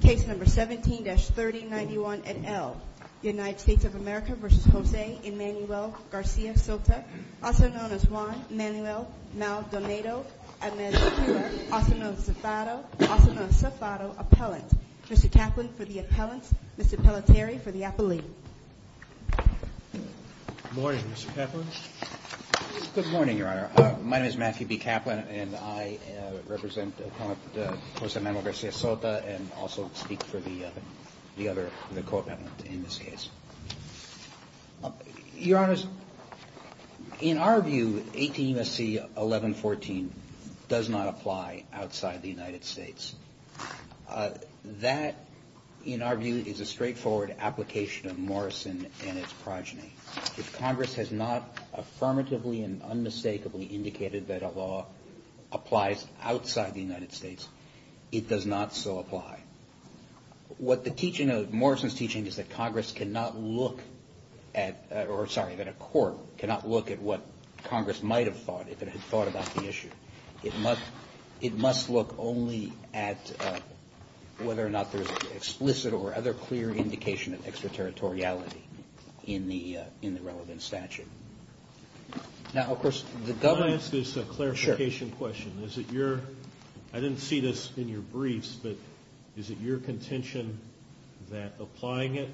Case number 17-3091 at L. United States of America v. Jose Emanuel Garcia Sota, also known as Juan Emanuel Maldonado, also known as Zafado, also known as Zafado Appellant. Mr. Kaplan for the appellants, Mr. Pelletier for the appellee. Good morning, Mr. Kaplan. Good morning, Your Honor. My name is Matthew B. Kaplan, and I represent the appellant, Jose Emanuel Garcia Sota, and also speak for the other, the co-appellant in this case. Your Honors, in our view, 18 SC 1114 does not apply outside the United States. That, in our view, is a straightforward application of Morrison and its progeny. If Congress has not affirmatively and unmistakably indicated that a law applies outside the United States, it does not so apply. What the teaching of Morrison's teaching is that Congress cannot look at, or sorry, that a court cannot look at what Congress might have thought if it had thought about the issue. It must look only at whether or not there's explicit or other clear indication of extraterritoriality in the relevant statute. Now, of course, the government... Can I ask this clarification question? Sure. Is it your, I didn't see this in your briefs, but is it your contention that applying it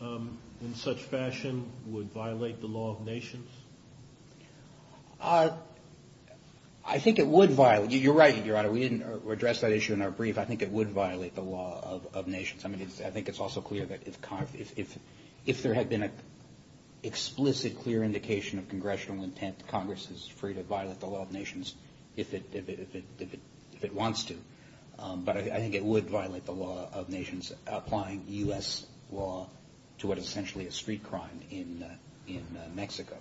in such fashion would violate the law of nations? I think it would violate, you're right, Your Honor, we didn't address that issue in our brief, I think it would violate the law of nations. I mean, I think it's also clear that if there had been an explicit, clear indication of congressional intent, Congress is free to violate the law of nations if it wants to. But I think it would violate the law of nations applying U.S. law to what is essentially a street crime in Mexico.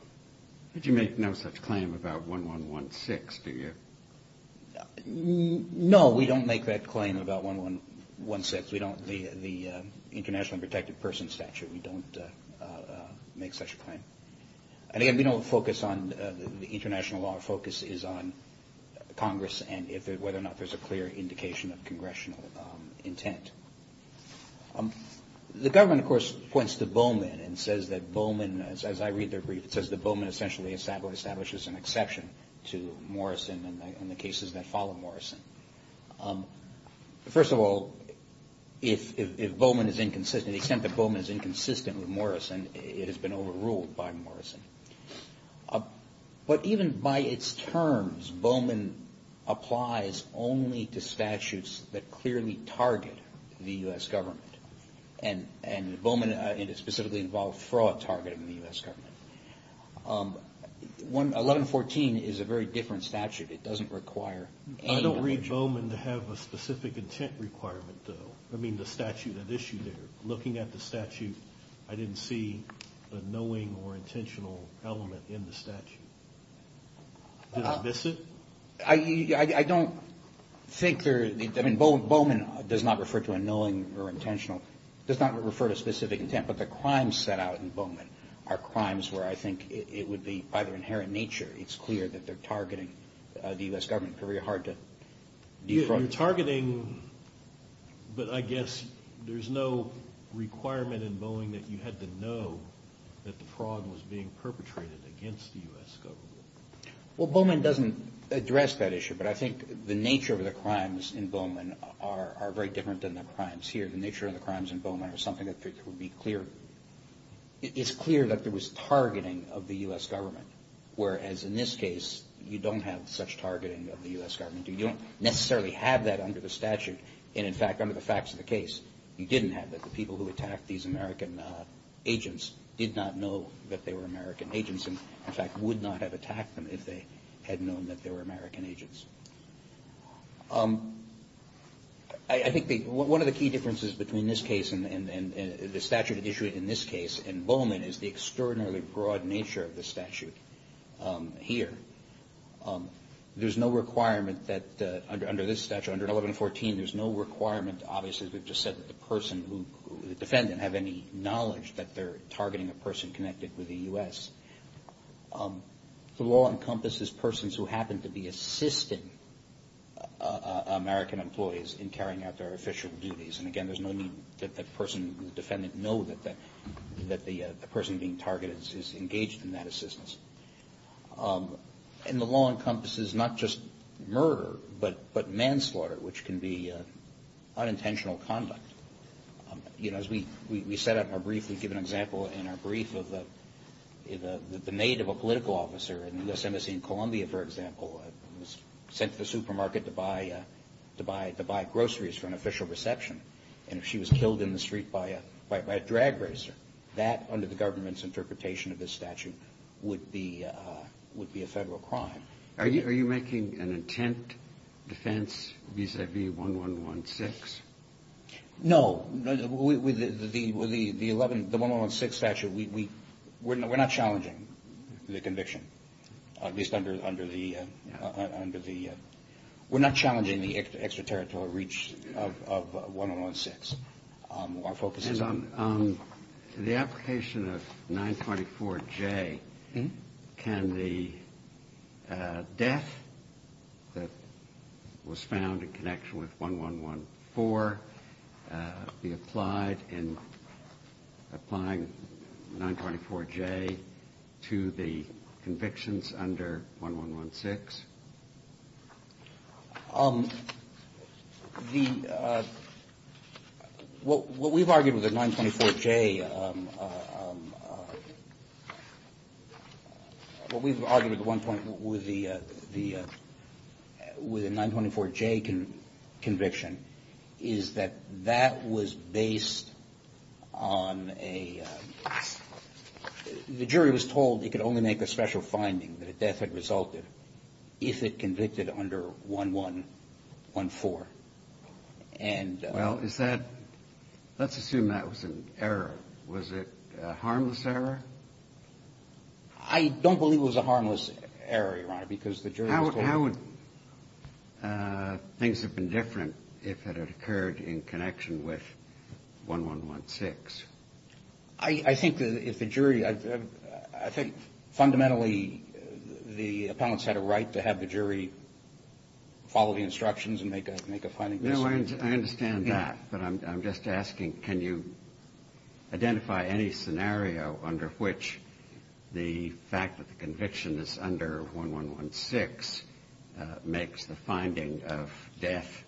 But you make no such claim about 1116, do you? No, we don't make that claim about 1116. We don't, the international protected person statute, we don't make such a claim. And again, we don't focus on the international law, our focus is on Congress and whether or not there's a clear indication of congressional intent. The government, of course, points to Bowman and says that Bowman, as I read their brief, it says that Bowman essentially establishes an exception to Morrison and the cases that follow Morrison. First of all, if Bowman is inconsistent, the extent that Bowman is inconsistent with Morrison, it has been overruled by Morrison. But even by its terms, Bowman applies only to statutes that clearly target the U.S. government. And Bowman specifically involved fraud targeting the U.S. government. 1114 is a very different statute, it doesn't require any... I don't read Bowman to have a specific intent requirement, though. I mean, the statute at issue there, looking at the statute, I didn't see a knowing or intentional element in the statute. Did I miss it? I don't think there, I mean, Bowman does not refer to a knowing or intentional, does not refer to a specific intent. But the crimes set out in Bowman are crimes where I think it would be, by their inherent nature, it's clear that they're targeting the U.S. government. You're targeting, but I guess there's no requirement in Bowman that you had to know that the fraud was being perpetrated against the U.S. government. Well, Bowman doesn't address that issue, but I think the nature of the crimes in Bowman are very different than the crimes here. The nature of the crimes in Bowman are something that would be clear, it's clear that there was targeting of the U.S. government. Whereas in this case, you don't have such targeting of the U.S. government. You don't necessarily have that under the statute, and in fact, under the facts of the case, you didn't have that. The people who attacked these American agents did not know that they were American agents, and in fact, would not have attacked them if they had known that they were American agents. I think one of the key differences between this case and the statute issued in this case in Bowman is the extraordinarily broad nature of the statute here. There's no requirement that under this statute, under 1114, there's no requirement, obviously, as we've just said, that the person, the defendant, have any knowledge that they're targeting a person connected with the U.S. The law encompasses persons who happen to be assisting American employees in carrying out their official duties, and again, there's no need that the person, the defendant, know that the person being targeted is engaged in that assistance. And the law encompasses not just murder, but manslaughter, which can be unintentional conduct. As we set up in our brief, we give an example in our brief of the maid of a political officer in the U.S. Embassy in Columbia, for example, who was sent to the supermarket to buy groceries for an official reception, and if she was killed in the street by a drag racer, that, under the government's interpretation of this statute, would be a federal crime. Are you making an intent defense vis-à-vis 1116? No. With the 1116 statute, we're not challenging the conviction, at least under the — we're not challenging the extraterritorial reach of 1116. And on the application of 924J, can the death that was found in connection with 1114 be applied in applying 924J to the convictions under 1116? The — what we've argued with the 924J — what we've argued at one point with the 924J conviction is that that was based on a — the jury was told it could only make a special finding that a death had resulted if it convicted under 1114. And — Well, is that — let's assume that was an error. Was it a harmless error? I don't believe it was a harmless error, Your Honor, because the jury was told — How would things have been different if it had occurred in connection with 1116? I think that if the jury — I think fundamentally the appellants had a right to have the jury follow the instructions and make a finding. No, I understand that. But I'm just asking, can you identify any scenario under which the fact that the conviction is under 1116 makes the finding of death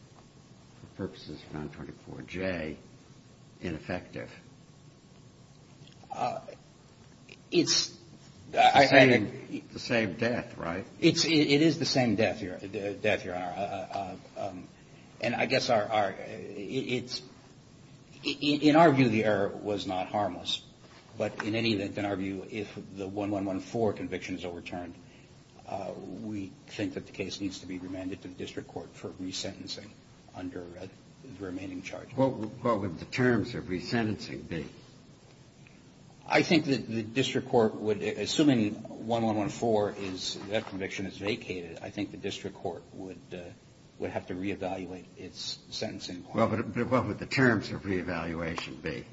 for purposes of 924J ineffective? It's — The same death, right? It is the same death, Your Honor. And I guess our — it's — in our view, the error was not harmless. But in any event, in our view, if the 1114 conviction is overturned, we think that the case needs to be remanded to the district court for resentencing under the remaining charge. What would the terms of resentencing be? I think that the district court would — assuming 1114 is — that conviction is vacated, I think the district court would have to reevaluate its sentencing. Well, but what would the terms of reevaluation be?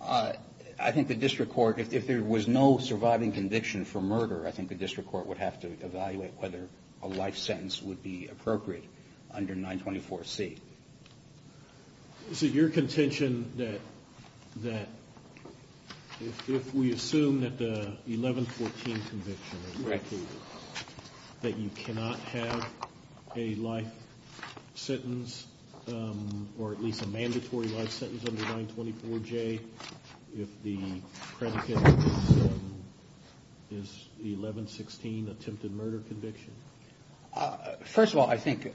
I think the district court — if there was no surviving conviction for murder, I think the district court would have to evaluate whether a life sentence would be appropriate under 924C. So your contention that if we assume that the 1114 conviction is vacated, that you cannot have a life sentence or at least a mandatory life sentence under 924J if the predicate is the 1116 attempted murder conviction? First of all, I think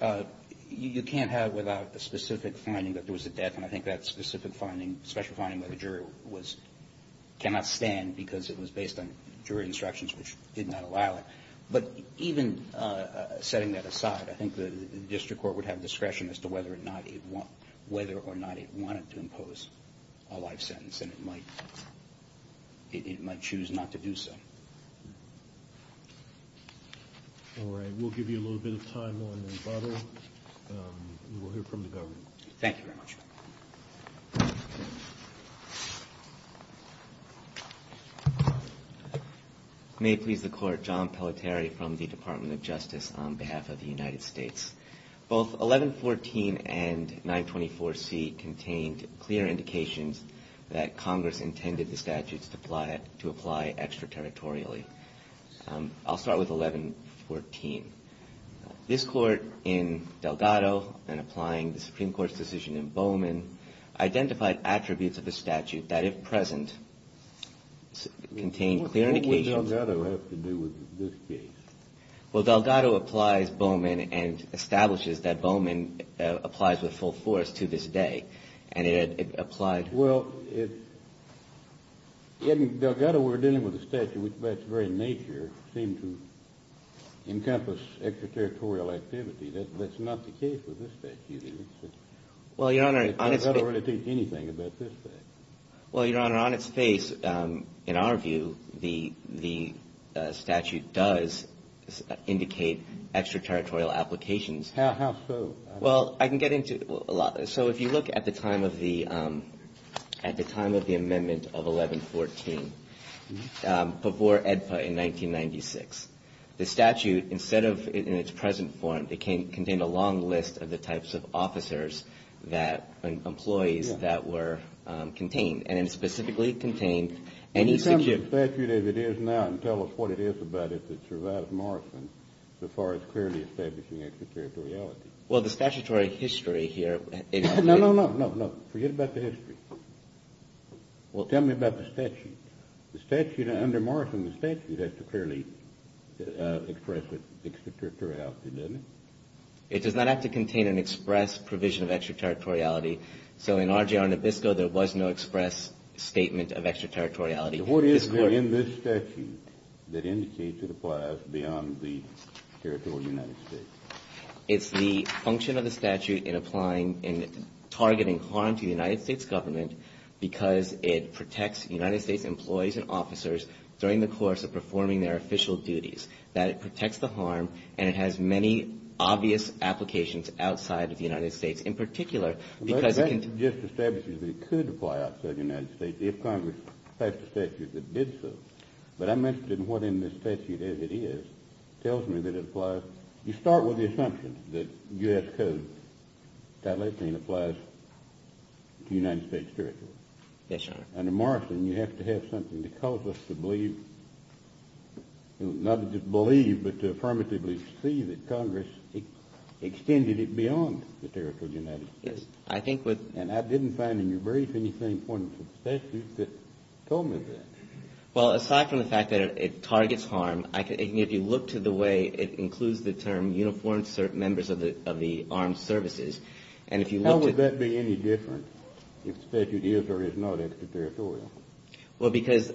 you can't have without the specific finding that there was a death. And I think that specific finding — special finding by the jury was — cannot stand because it was based on jury instructions which did not allow it. But even setting that aside, I think the district court would have discretion as to whether or not it wanted to impose a life sentence. And it might — it might choose not to do so. All right, we'll give you a little bit of time on the rebuttal. We'll hear from the governor. Thank you very much. May it please the court, John Pelletieri from the Department of Justice on behalf of the United States. Both 1114 and 924C contained clear indications that Congress intended the statutes to apply — to apply extraterritorially. I'll start with 1114. This court in Delgado and applying the Supreme Court's decision in Bowman identified attributes of the statute that, if present, contained clear indications — What would Delgado have to do with this case? Well, Delgado applies Bowman and establishes that Bowman applies with full force to this day. And it had applied — Well, it's — in Delgado we're dealing with a statute which by its very nature seemed to encompass extraterritorial activity. That's not the case with this statute, is it? Well, Your Honor, on its — It doesn't really teach anything about this fact. Well, Your Honor, on its face, in our view, the statute does indicate extraterritorial applications. How so? Well, I can get into a lot. So if you look at the time of the — at the time of the amendment of 1114, before AEDPA in 1996, the statute, instead of in its present form, it contained a long list of the types of officers that — employees that were contained. And it specifically contained any — Can you tell us what statute it is now and tell us what it is about it that survives Morrison so far as clearly establishing extraterritoriality? Well, the statutory history here — No, no, no. No, no. Forget about the history. Well, tell me about the statute. The statute — under Morrison, the statute has to clearly express extraterritoriality, doesn't it? It does not have to contain an express provision of extraterritoriality. So in RJR Nabisco, there was no express statement of extraterritoriality. So what is there in this statute that indicates it applies beyond the territory of the United States? It's the function of the statute in applying — in targeting harm to the United States government because it protects United States employees and officers during the course of performing their official duties, that it protects the harm, and it has many obvious applications outside of the United States, in particular because it can — Well, the statute just establishes that it could apply outside the United States if Congress passed a statute that did so. But I'm interested in what in this statute, as it is, tells me that it applies. You start with the assumption that U.S. code, Title 18, applies to the United States territory. Yes, Your Honor. Under Morrison, you have to have something to cause us to believe — not just believe, but to affirmatively see that Congress extended it beyond the territory of the United States. Yes. I think with — And I didn't find in your brief anything important for the statute that told me that. Well, aside from the fact that it targets harm, if you look to the way it includes the term uniformed members of the armed services, and if you look to — How would that be any different if the statute is or is not in the territory? Well, because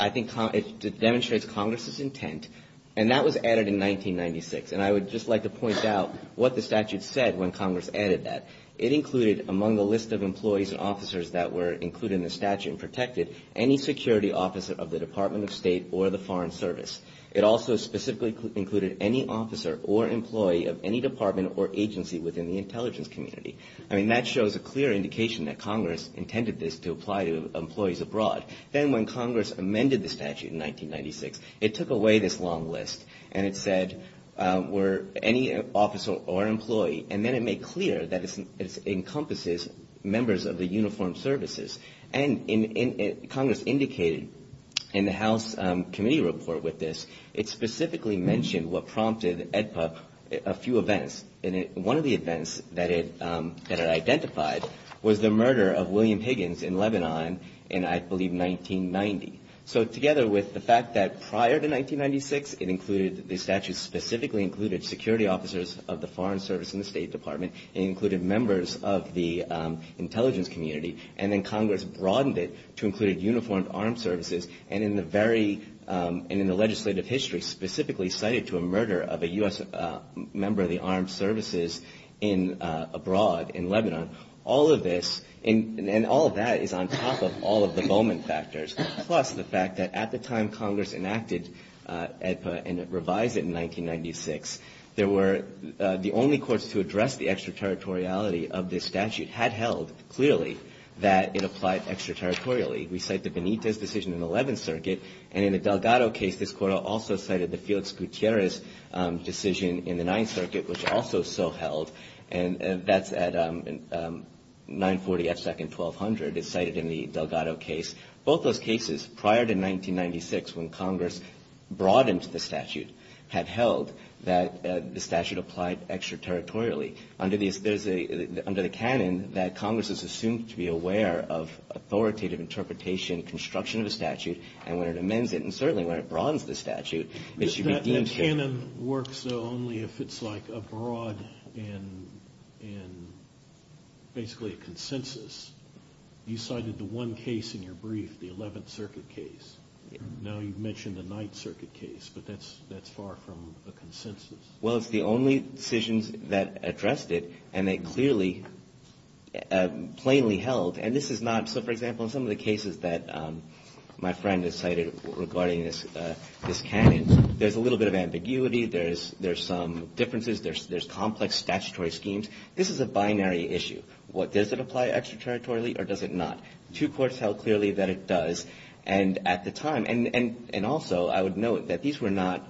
I think it demonstrates Congress's intent, and that was added in 1996. And I would just like to point out what the statute said when Congress added that. It included, among the list of employees and officers that were included in the statute and protected, any security officer of the Department of State or the Foreign Service. It also specifically included any officer or employee of any department or agency within the intelligence community. I mean, that shows a clear indication that Congress intended this to apply to employees abroad. Then when Congress amended the statute in 1996, it took away this long list, and it said any officer or employee. And then it made clear that it encompasses members of the uniformed services. And Congress indicated in the House committee report with this, it specifically mentioned what prompted AEDPA a few events. And one of the events that it identified was the murder of William Higgins in Lebanon in, I believe, 1990. So together with the fact that prior to 1996, the statute specifically included security officers of the Foreign Service and the State Department, it included members of the intelligence community, and then Congress broadened it to include uniformed armed services. And in the legislative history specifically cited to a murder of a U.S. member of the armed services abroad in Lebanon, all of this and all of that is on top of all of the Bowman factors, plus the fact that at the time Congress enacted AEDPA and revised it in 1996, the only courts to address the extraterritoriality of this statute had held clearly that it applied extraterritorially. We cite the Benitez decision in the 11th Circuit. And in the Delgado case, this court also cited the Felix Gutierrez decision in the 9th Circuit, which also so held. And that's at 940 F. Second, 1200. It's cited in the Delgado case. Both those cases prior to 1996, when Congress broadened the statute, had held that the statute applied extraterritorially. Under the canon that Congress is assumed to be aware of authoritative interpretation, construction of a statute, and when it amends it, and certainly when it broadens the statute, it should be deemed fair. That canon works only if it's like a broad and basically a consensus. You cited the one case in your brief, the 11th Circuit case. Now you've mentioned the 9th Circuit case, but that's far from a consensus. Well, it's the only decisions that addressed it, and they clearly plainly held. And this is not – so, for example, in some of the cases that my friend has cited regarding this canon, there's a little bit of ambiguity. There's some differences. There's complex statutory schemes. This is a binary issue. Does it apply extraterritorially or does it not? Two courts held clearly that it does. And also, I would note that these were not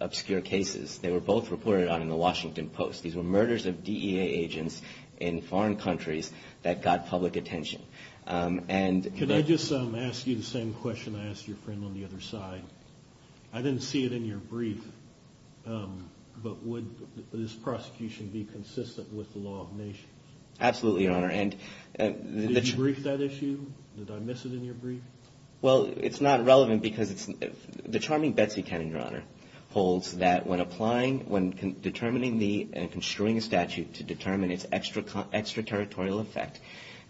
obscure cases. They were both reported on in the Washington Post. These were murders of DEA agents in foreign countries that got public attention. Can I just ask you the same question I asked your friend on the other side? I didn't see it in your brief, but would this prosecution be consistent with the law of nations? Absolutely, Your Honor. Did you brief that issue? Did I miss it in your brief? Well, it's not relevant because it's – the Charming Betsy canon, Your Honor, holds that when applying – when determining the – and construing a statute to determine its extraterritorial effect,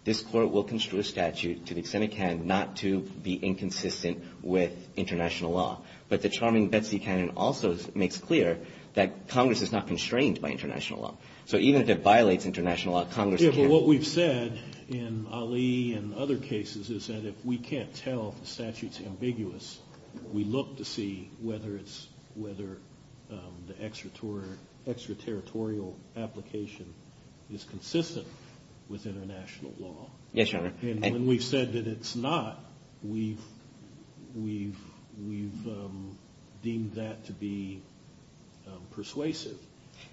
this court will construe a statute to the extent it can not to be inconsistent with international law. But the Charming Betsy canon also makes clear that Congress is not constrained by international law. What we've said in Ali and other cases is that if we can't tell if the statute's ambiguous, we look to see whether it's – whether the extraterritorial application is consistent with international law. Yes, Your Honor. And when we've said that it's not, we've deemed that to be persuasive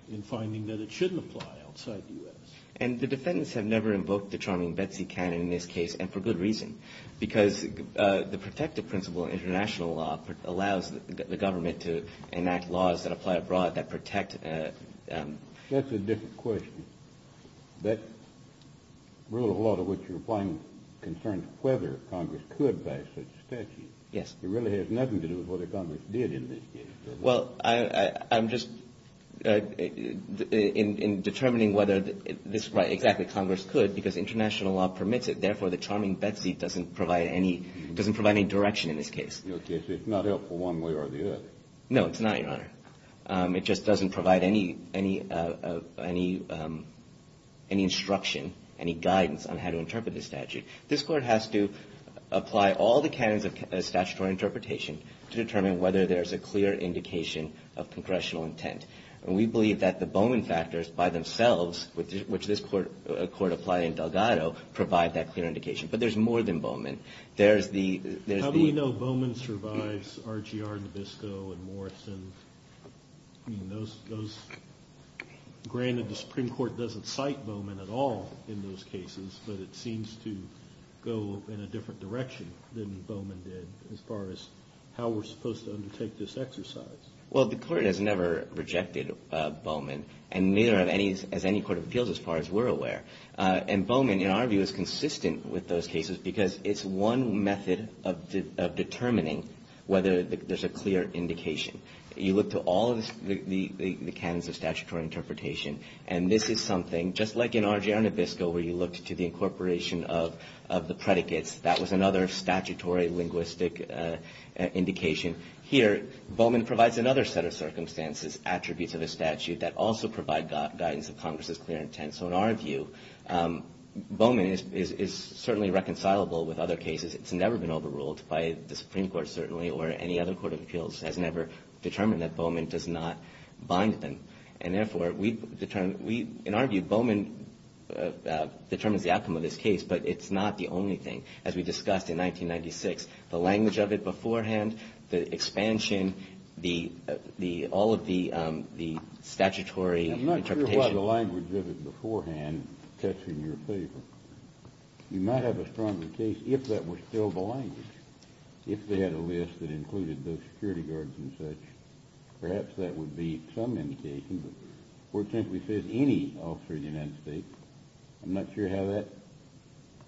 in finding that it shouldn't apply outside the U.S. And the defendants have never invoked the Charming Betsy canon in this case, and for good reason, because the protective principle in international law allows the government to enact laws that apply abroad, that protect – That's a different question. That rule of law to which you're applying concerns whether Congress could pass such a statute. Yes. It really has nothing to do with whether Congress did in this case, does it? Well, I'm just – in determining whether this – right, exactly, Congress could, because international law permits it. Therefore, the Charming Betsy doesn't provide any – doesn't provide any direction in this case. It's not helpful one way or the other. No, it's not, Your Honor. It just doesn't provide any – any instruction, any guidance on how to interpret the statute. This Court has to apply all the canons of statutory interpretation to determine whether there's a clear indication of congressional intent. And we believe that the Bowman factors by themselves, which this Court applied in Delgado, provide that clear indication. But there's more than Bowman. There's the – there's the – How do we know Bowman survives RGR, Nabisco, and Morrison? I mean, those – granted, the Supreme Court doesn't cite Bowman at all in those cases, but it seems to go in a different direction than Bowman did as far as how we're supposed to undertake this exercise. Well, the Court has never rejected Bowman, and neither has any court of appeals as far as we're aware. And Bowman, in our view, is consistent with those cases because it's one method of determining whether there's a clear indication. You look to all of the canons of statutory interpretation, and this is something, just like in RGR and Nabisco, where you looked to the incorporation of the predicates, that was another statutory linguistic indication. Here, Bowman provides another set of circumstances, attributes of a statute that also provide guidance of Congress's clear intent. So in our view, Bowman is certainly reconcilable with other cases. It's never been overruled by the Supreme Court, certainly, or any other court of appeals has never determined that Bowman does not bind them. And therefore, in our view, Bowman determines the outcome of this case, but it's not the only thing. As we discussed in 1996, the language of it beforehand, the expansion, all of the statutory interpretation. I'm not sure why the language of it beforehand cuts in your favor. You might have a stronger case if that was still the language, if they had a list that included those security guards and such. Perhaps that would be some indication, but the court simply says any officer of the United States. I'm not sure how that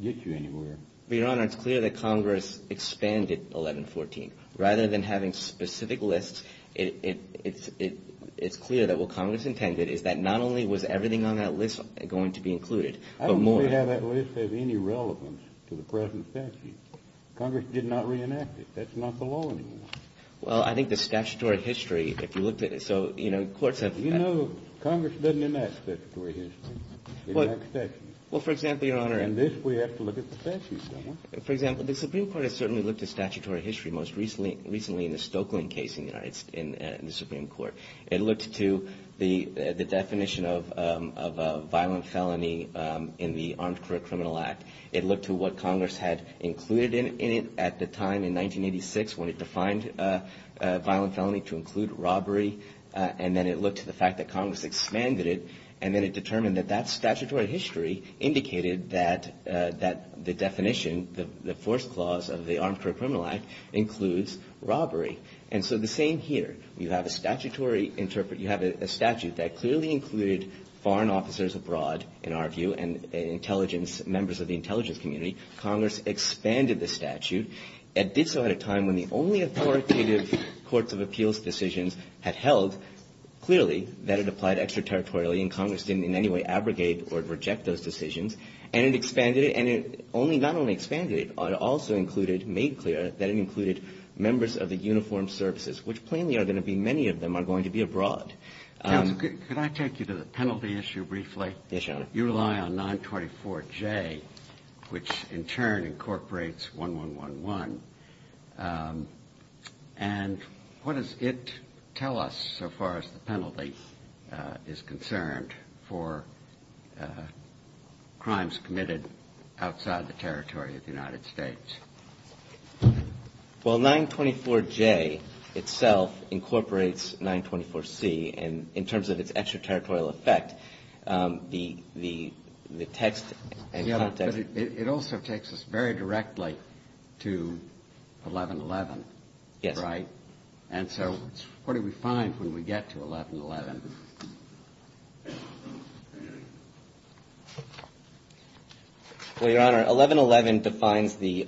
gets you anywhere. Your Honor, it's clear that Congress expanded 1114. Rather than having specific lists, it's clear that what Congress intended is that not only was everything on that list going to be included, but more. I don't see how that list has any relevance to the present statute. Congress did not reenact it. That's not the law anymore. Well, I think the statutory history, if you looked at it. So, you know, courts have. You know, Congress doesn't enact statutory history. It's not statute. Well, for example, Your Honor. And this we have to look at the statute somewhat. For example, the Supreme Court has certainly looked at statutory history most recently in the Stokeland case in the Supreme Court. It looked to the definition of a violent felony in the Armed Career Criminal Act. It looked to what Congress had included in it at the time, in 1986, when it defined a violent felony to include robbery. And then it looked to the fact that Congress expanded it, and then it determined that that statutory history indicated that the definition, the first clause of the Armed Career Criminal Act, includes robbery. And so the same here. You have a statutory interpretation. You have a statute that clearly included foreign officers abroad, in our view, and intelligence, members of the intelligence community. Congress expanded the statute. It did so at a time when the only authoritative courts of appeals decisions had held clearly that it applied extraterritorially, and Congress didn't in any way abrogate or reject those decisions. And it expanded it. And it only not only expanded it, it also included, made clear that it included members of the uniformed services, which plainly are going to be, many of them are going to be abroad. Counsel, could I take you to the penalty issue briefly? Yes, Your Honor. You rely on 924J, which in turn incorporates 1111. And what does it tell us, so far as the penalty is concerned, for crimes committed outside the territory of the United States? Well, 924J itself incorporates 924C in terms of its extraterritorial effect. The text and context. Yeah, but it also takes us very directly to 1111, right? Yes. And so what do we find when we get to 1111? Well, Your Honor, 1111 defines the,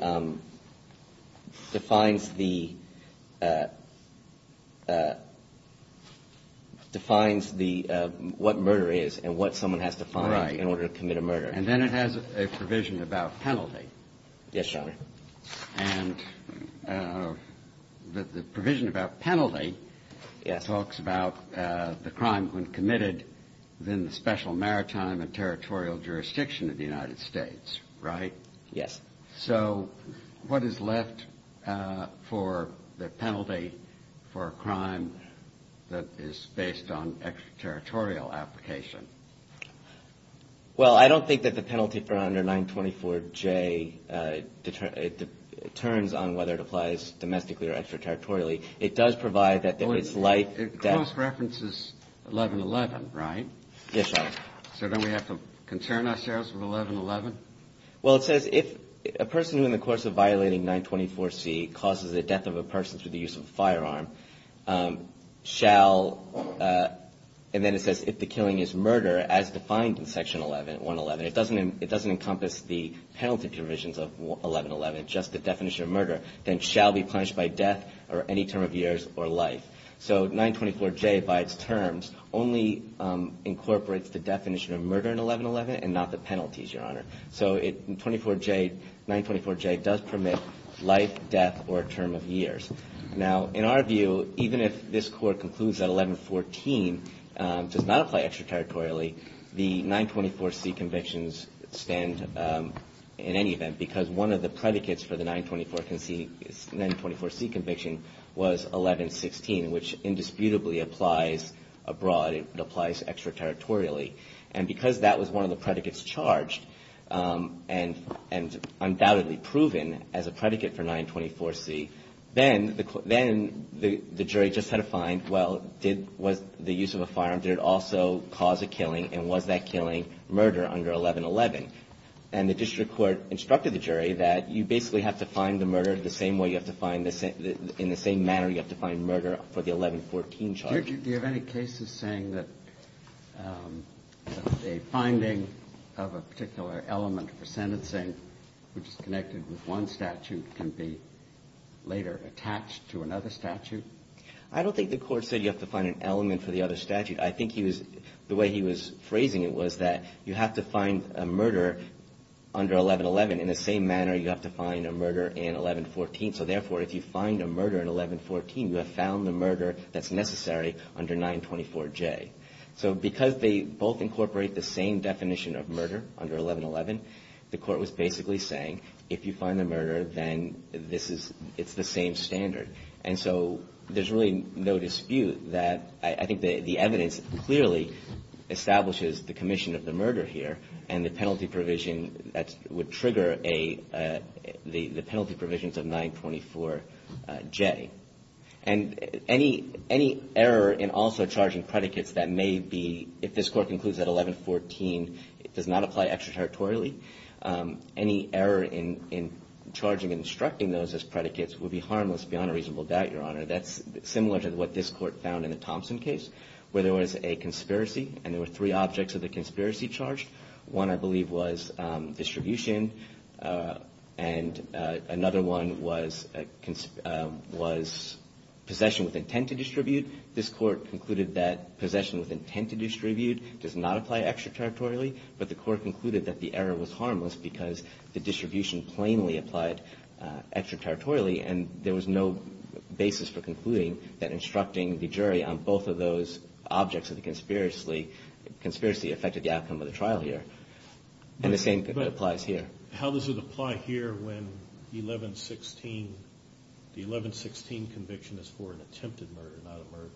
defines the, defines the, what murder is and what someone has to find in order to commit a murder. Right. And then it has a provision about penalty. Yes, Your Honor. And the provision about penalty talks about the crime when committed within the special maritime and territorial jurisdiction of the United States, right? Yes. So what is left for the penalty for a crime that is based on extraterritorial application? Well, I don't think that the penalty for under 924J determines on whether it applies domestically or extraterritorially. It does provide that there is life. It close references 1111, right? Yes, Your Honor. So don't we have to concern ourselves with 1111? Well, it says if a person who in the course of violating 924C causes the death of a person through the use of a firearm shall, and then it says if the killing is murder as defined in section 11, 111, it doesn't encompass the penalty provisions of 1111, just the definition of murder, then shall be punished by death or any term of years or life. So 924J by its terms only incorporates the definition of murder in 1111 and not the penalties, Your Honor. So it, 24J, 924J does permit life, death, or term of years. Now, in our view, even if this court concludes that 1114 does not apply extraterritorially, the 924C convictions stand in any event because one of the predicates for the 924C conviction was 1116, which indisputably applies abroad, it applies extraterritorially. And because that was one of the predicates charged and undoubtedly proven as a predicate for 924C, then the jury just had to find, well, did the use of a firearm, did it also cause a killing, and was that killing murder under 1111? And the district court instructed the jury that you basically have to find the murder the same way you have to find the same, in the same manner you have to find murder for the 1114 charge. Do you have any cases saying that a finding of a particular element for sentencing, which is connected with one statute, can be later attached to another statute? I don't think the court said you have to find an element for the other statute. I think he was, the way he was phrasing it was that you have to find a murder under 1111. In the same manner, you have to find a murder in 1114. So therefore, if you find a murder in 1114, you have found the murder that's necessary under 924J. So because they both incorporate the same definition of murder under 1111, the court was basically saying if you find the murder, then this is, it's the same standard. And so there's really no dispute that I think the evidence clearly establishes the commission of the murder here and the penalty provision that would trigger the penalty provisions of 924J. And any error in also charging predicates that may be, if this court concludes that 1114 does not apply extraterritorially, any error in charging and instructing those as predicates would be harmless beyond a reasonable doubt, Your Honor. That's similar to what this court found in the Thompson case where there was a conspiracy and there were three objects of the conspiracy charged. One, I believe, was distribution and another one was possession with intent to distribute. This court concluded that possession with intent to distribute does not apply extraterritorially, but the court concluded that the error was harmless because the distribution plainly applied extraterritorially and there was no basis for concluding that instructing the jury on both of those objects of the conspiracy affected the outcome of the trial here. And the same applies here. But how does it apply here when the 1116 conviction is for an attempted murder, not a murder?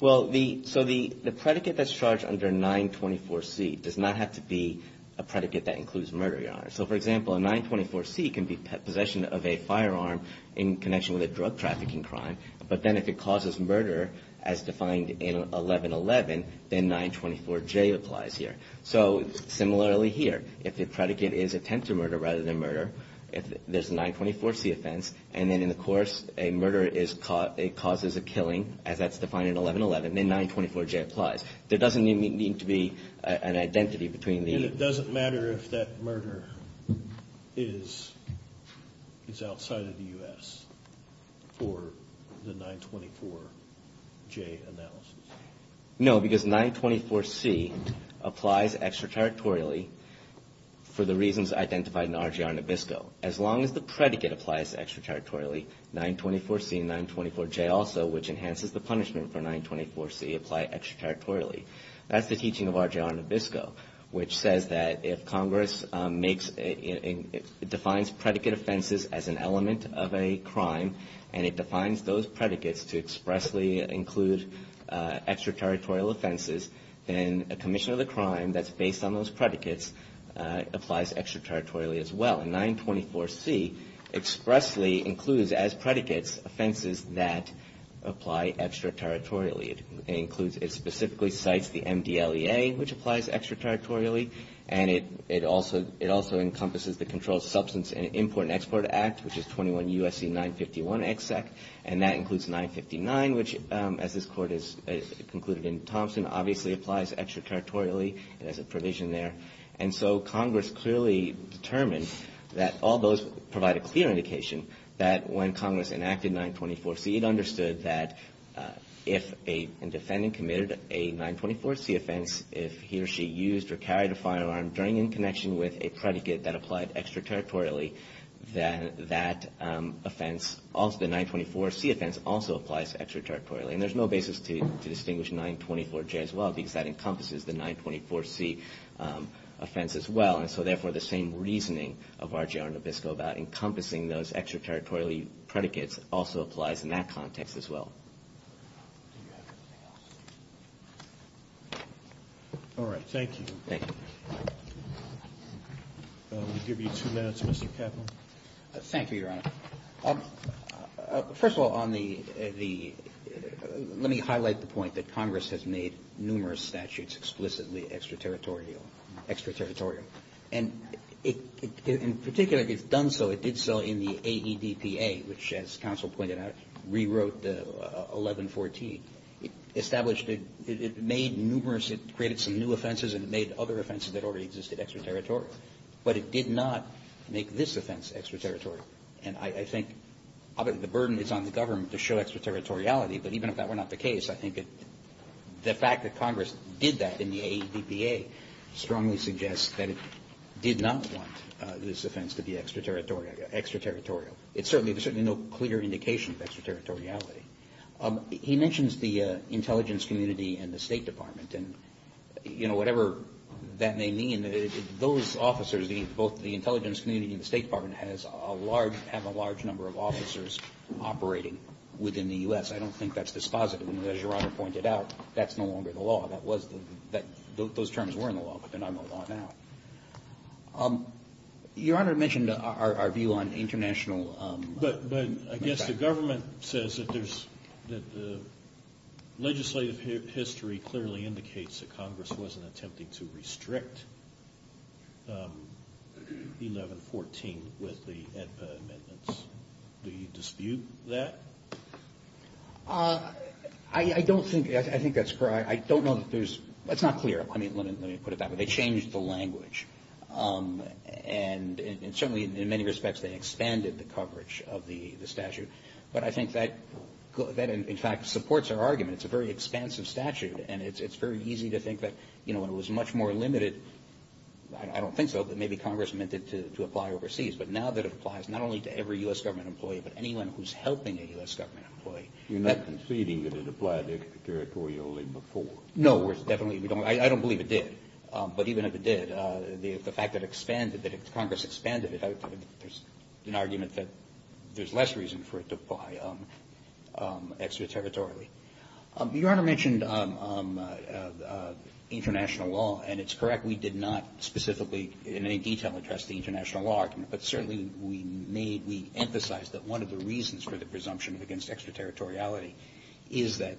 Well, so the predicate that's charged under 924C does not have to be a predicate that includes murder, Your Honor. So, for example, a 924C can be possession of a firearm in connection with a drug trafficking crime, but then if it causes murder as defined in 1111, then 924J applies here. So similarly here, if the predicate is attempted murder rather than murder, if there's a 924C offense, and then in the course a murder causes a killing, as that's defined in 1111, then 924J applies. There doesn't need to be an identity between the... And it doesn't matter if that murder is outside of the U.S. for the 924J analysis? No, because 924C applies extraterritorially for the reasons identified in RGR Nabisco. As long as the predicate applies extraterritorially, 924C and 924J also, which enhances the punishment for 924C, apply extraterritorially. That's the teaching of RGR Nabisco, which says that if Congress defines predicate offenses as an element of a crime and it defines those predicates to expressly include extraterritorial offenses, then a commission of the crime that's based on those predicates applies extraterritorially as well. And 924C expressly includes as predicates offenses that apply extraterritorially. It specifically cites the MDLEA, which applies extraterritorially, and it also encompasses the Controlled Substance Import and Export Act, which is 21 U.S.C. 951 EXEC, and that includes 959, which, as this Court has concluded in Thompson, obviously applies extraterritorially. It has a provision there. And so Congress clearly determined that all those provide a clear indication that when Congress enacted 924C, it understood that if a defendant committed a 924C offense, if he or she used or carried a firearm during in connection with a predicate that applied extraterritorially, then that offense, the 924C offense, also applies extraterritorially. And there's no basis to distinguish 924J as well because that encompasses the 924C offense as well. And so, therefore, the same reasoning of RGR Nabisco about encompassing those extraterritorial predicates also applies. It applies in that context as well. All right, thank you. Thank you. We'll give you two minutes, Mr. Kaplan. Thank you, Your Honor. First of all, let me highlight the point that Congress has made numerous statutes explicitly extraterritorial. And in particular, it's done so, it did so in the AEDPA, which as counsel pointed out, rewrote the 1114. It established, it made numerous, it created some new offenses and it made other offenses that already existed extraterritorial. But it did not make this offense extraterritorial. And I think the burden is on the government to show extraterritoriality, but even if that were not the case, I think the fact that Congress did that in the AEDPA strongly suggests that it did not want this offense to be extraterritorial. It certainly, there's certainly no clear indication of extraterritoriality. He mentions the intelligence community and the State Department. And, you know, whatever that may mean, those officers, both the intelligence community and the State Department, have a large number of officers operating within the U.S. I don't think that's dispositive. As Your Honor pointed out, that's no longer the law. That was, those terms were in the law, but they're not in the law now. Your Honor mentioned our view on international... But I guess the government says that there's, that the legislative history clearly indicates that Congress wasn't attempting to restrict 1114 with the AEDPA amendments. Do you dispute that? I don't think, I think that's correct. I don't know that there's, that's not clear. I mean, let me put it that way. They changed the language, and certainly in many respects they expanded the coverage of the statute. But I think that in fact supports our argument. It's a very expansive statute, and it's very easy to think that, you know, when it was much more limited, I don't think so, but maybe Congress meant it to apply overseas. But now that it applies not only to every U.S. government employee, but anyone who's helping a U.S. government employee. You're not conceding that it applied extraterritorially before? No, we're definitely, we don't, I don't believe it did. But even if it did, the fact that it expanded, that Congress expanded it, there's an argument that there's less reason for it to apply extraterritorially. Your Honor mentioned international law, and it's correct, we did not specifically in any detail address the international law argument. But certainly we made, we emphasized that one of the reasons for the presumption against extraterritoriality is that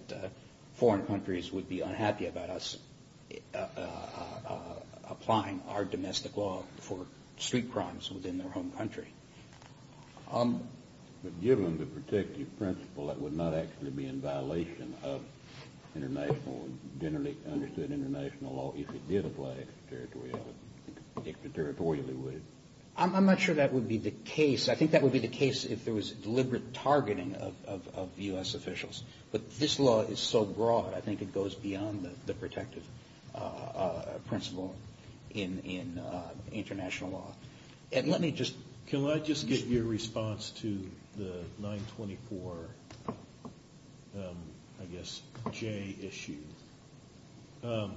foreign countries would be unhappy about us applying our domestic law for street crimes within their home country. But given the protective principle, that would not actually be in violation of international, generally understood international law, if it did apply extraterritorially, would it? I'm not sure that would be the case. I think that would be the case if there was deliberate targeting of U.S. officials. But this law is so broad, I think it goes beyond the protective principle in international law. And let me just... Can I just get your response to the 924, I guess, J issue? And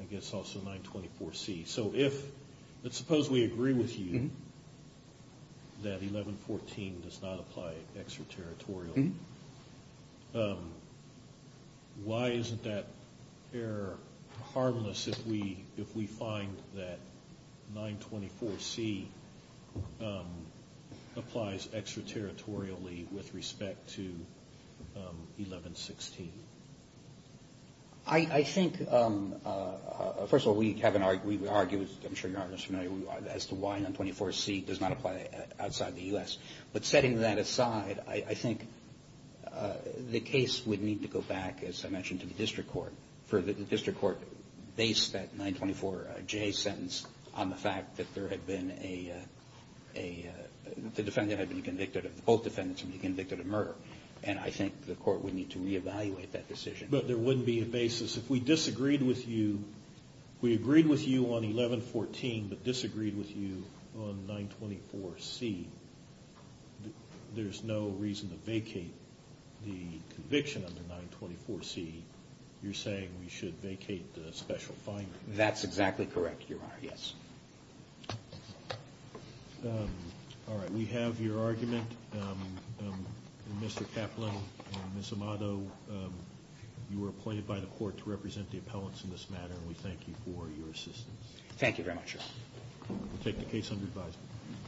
I guess also 924C. So if, let's suppose we agree with you that 1114 does not apply extraterritorially. Why isn't that error harmless if we find that 924C applies extraterritorially with respect to 1116? I think, first of all, we have an argument, I'm sure you're familiar as to why 924C does not apply outside the U.S. But setting that aside, I think the case would need to go back, as I mentioned, to the district court. The district court based that 924J sentence on the fact that there had been a... The defendant had been convicted, both defendants had been convicted of murder. And I think the court would need to reevaluate that decision. But there wouldn't be a basis. If we disagreed with you on 1114 but disagreed with you on 924C, there's no reason to vacate the conviction under 924C. You're saying we should vacate the special finding? That's exactly correct, Your Honor, yes. All right, we have your argument. Mr. Kaplan and Ms. Amato, you were appointed by the court to represent the appellants in this matter, and we thank you for your assistance. Thank you very much, Your Honor. We'll take the case under advisement.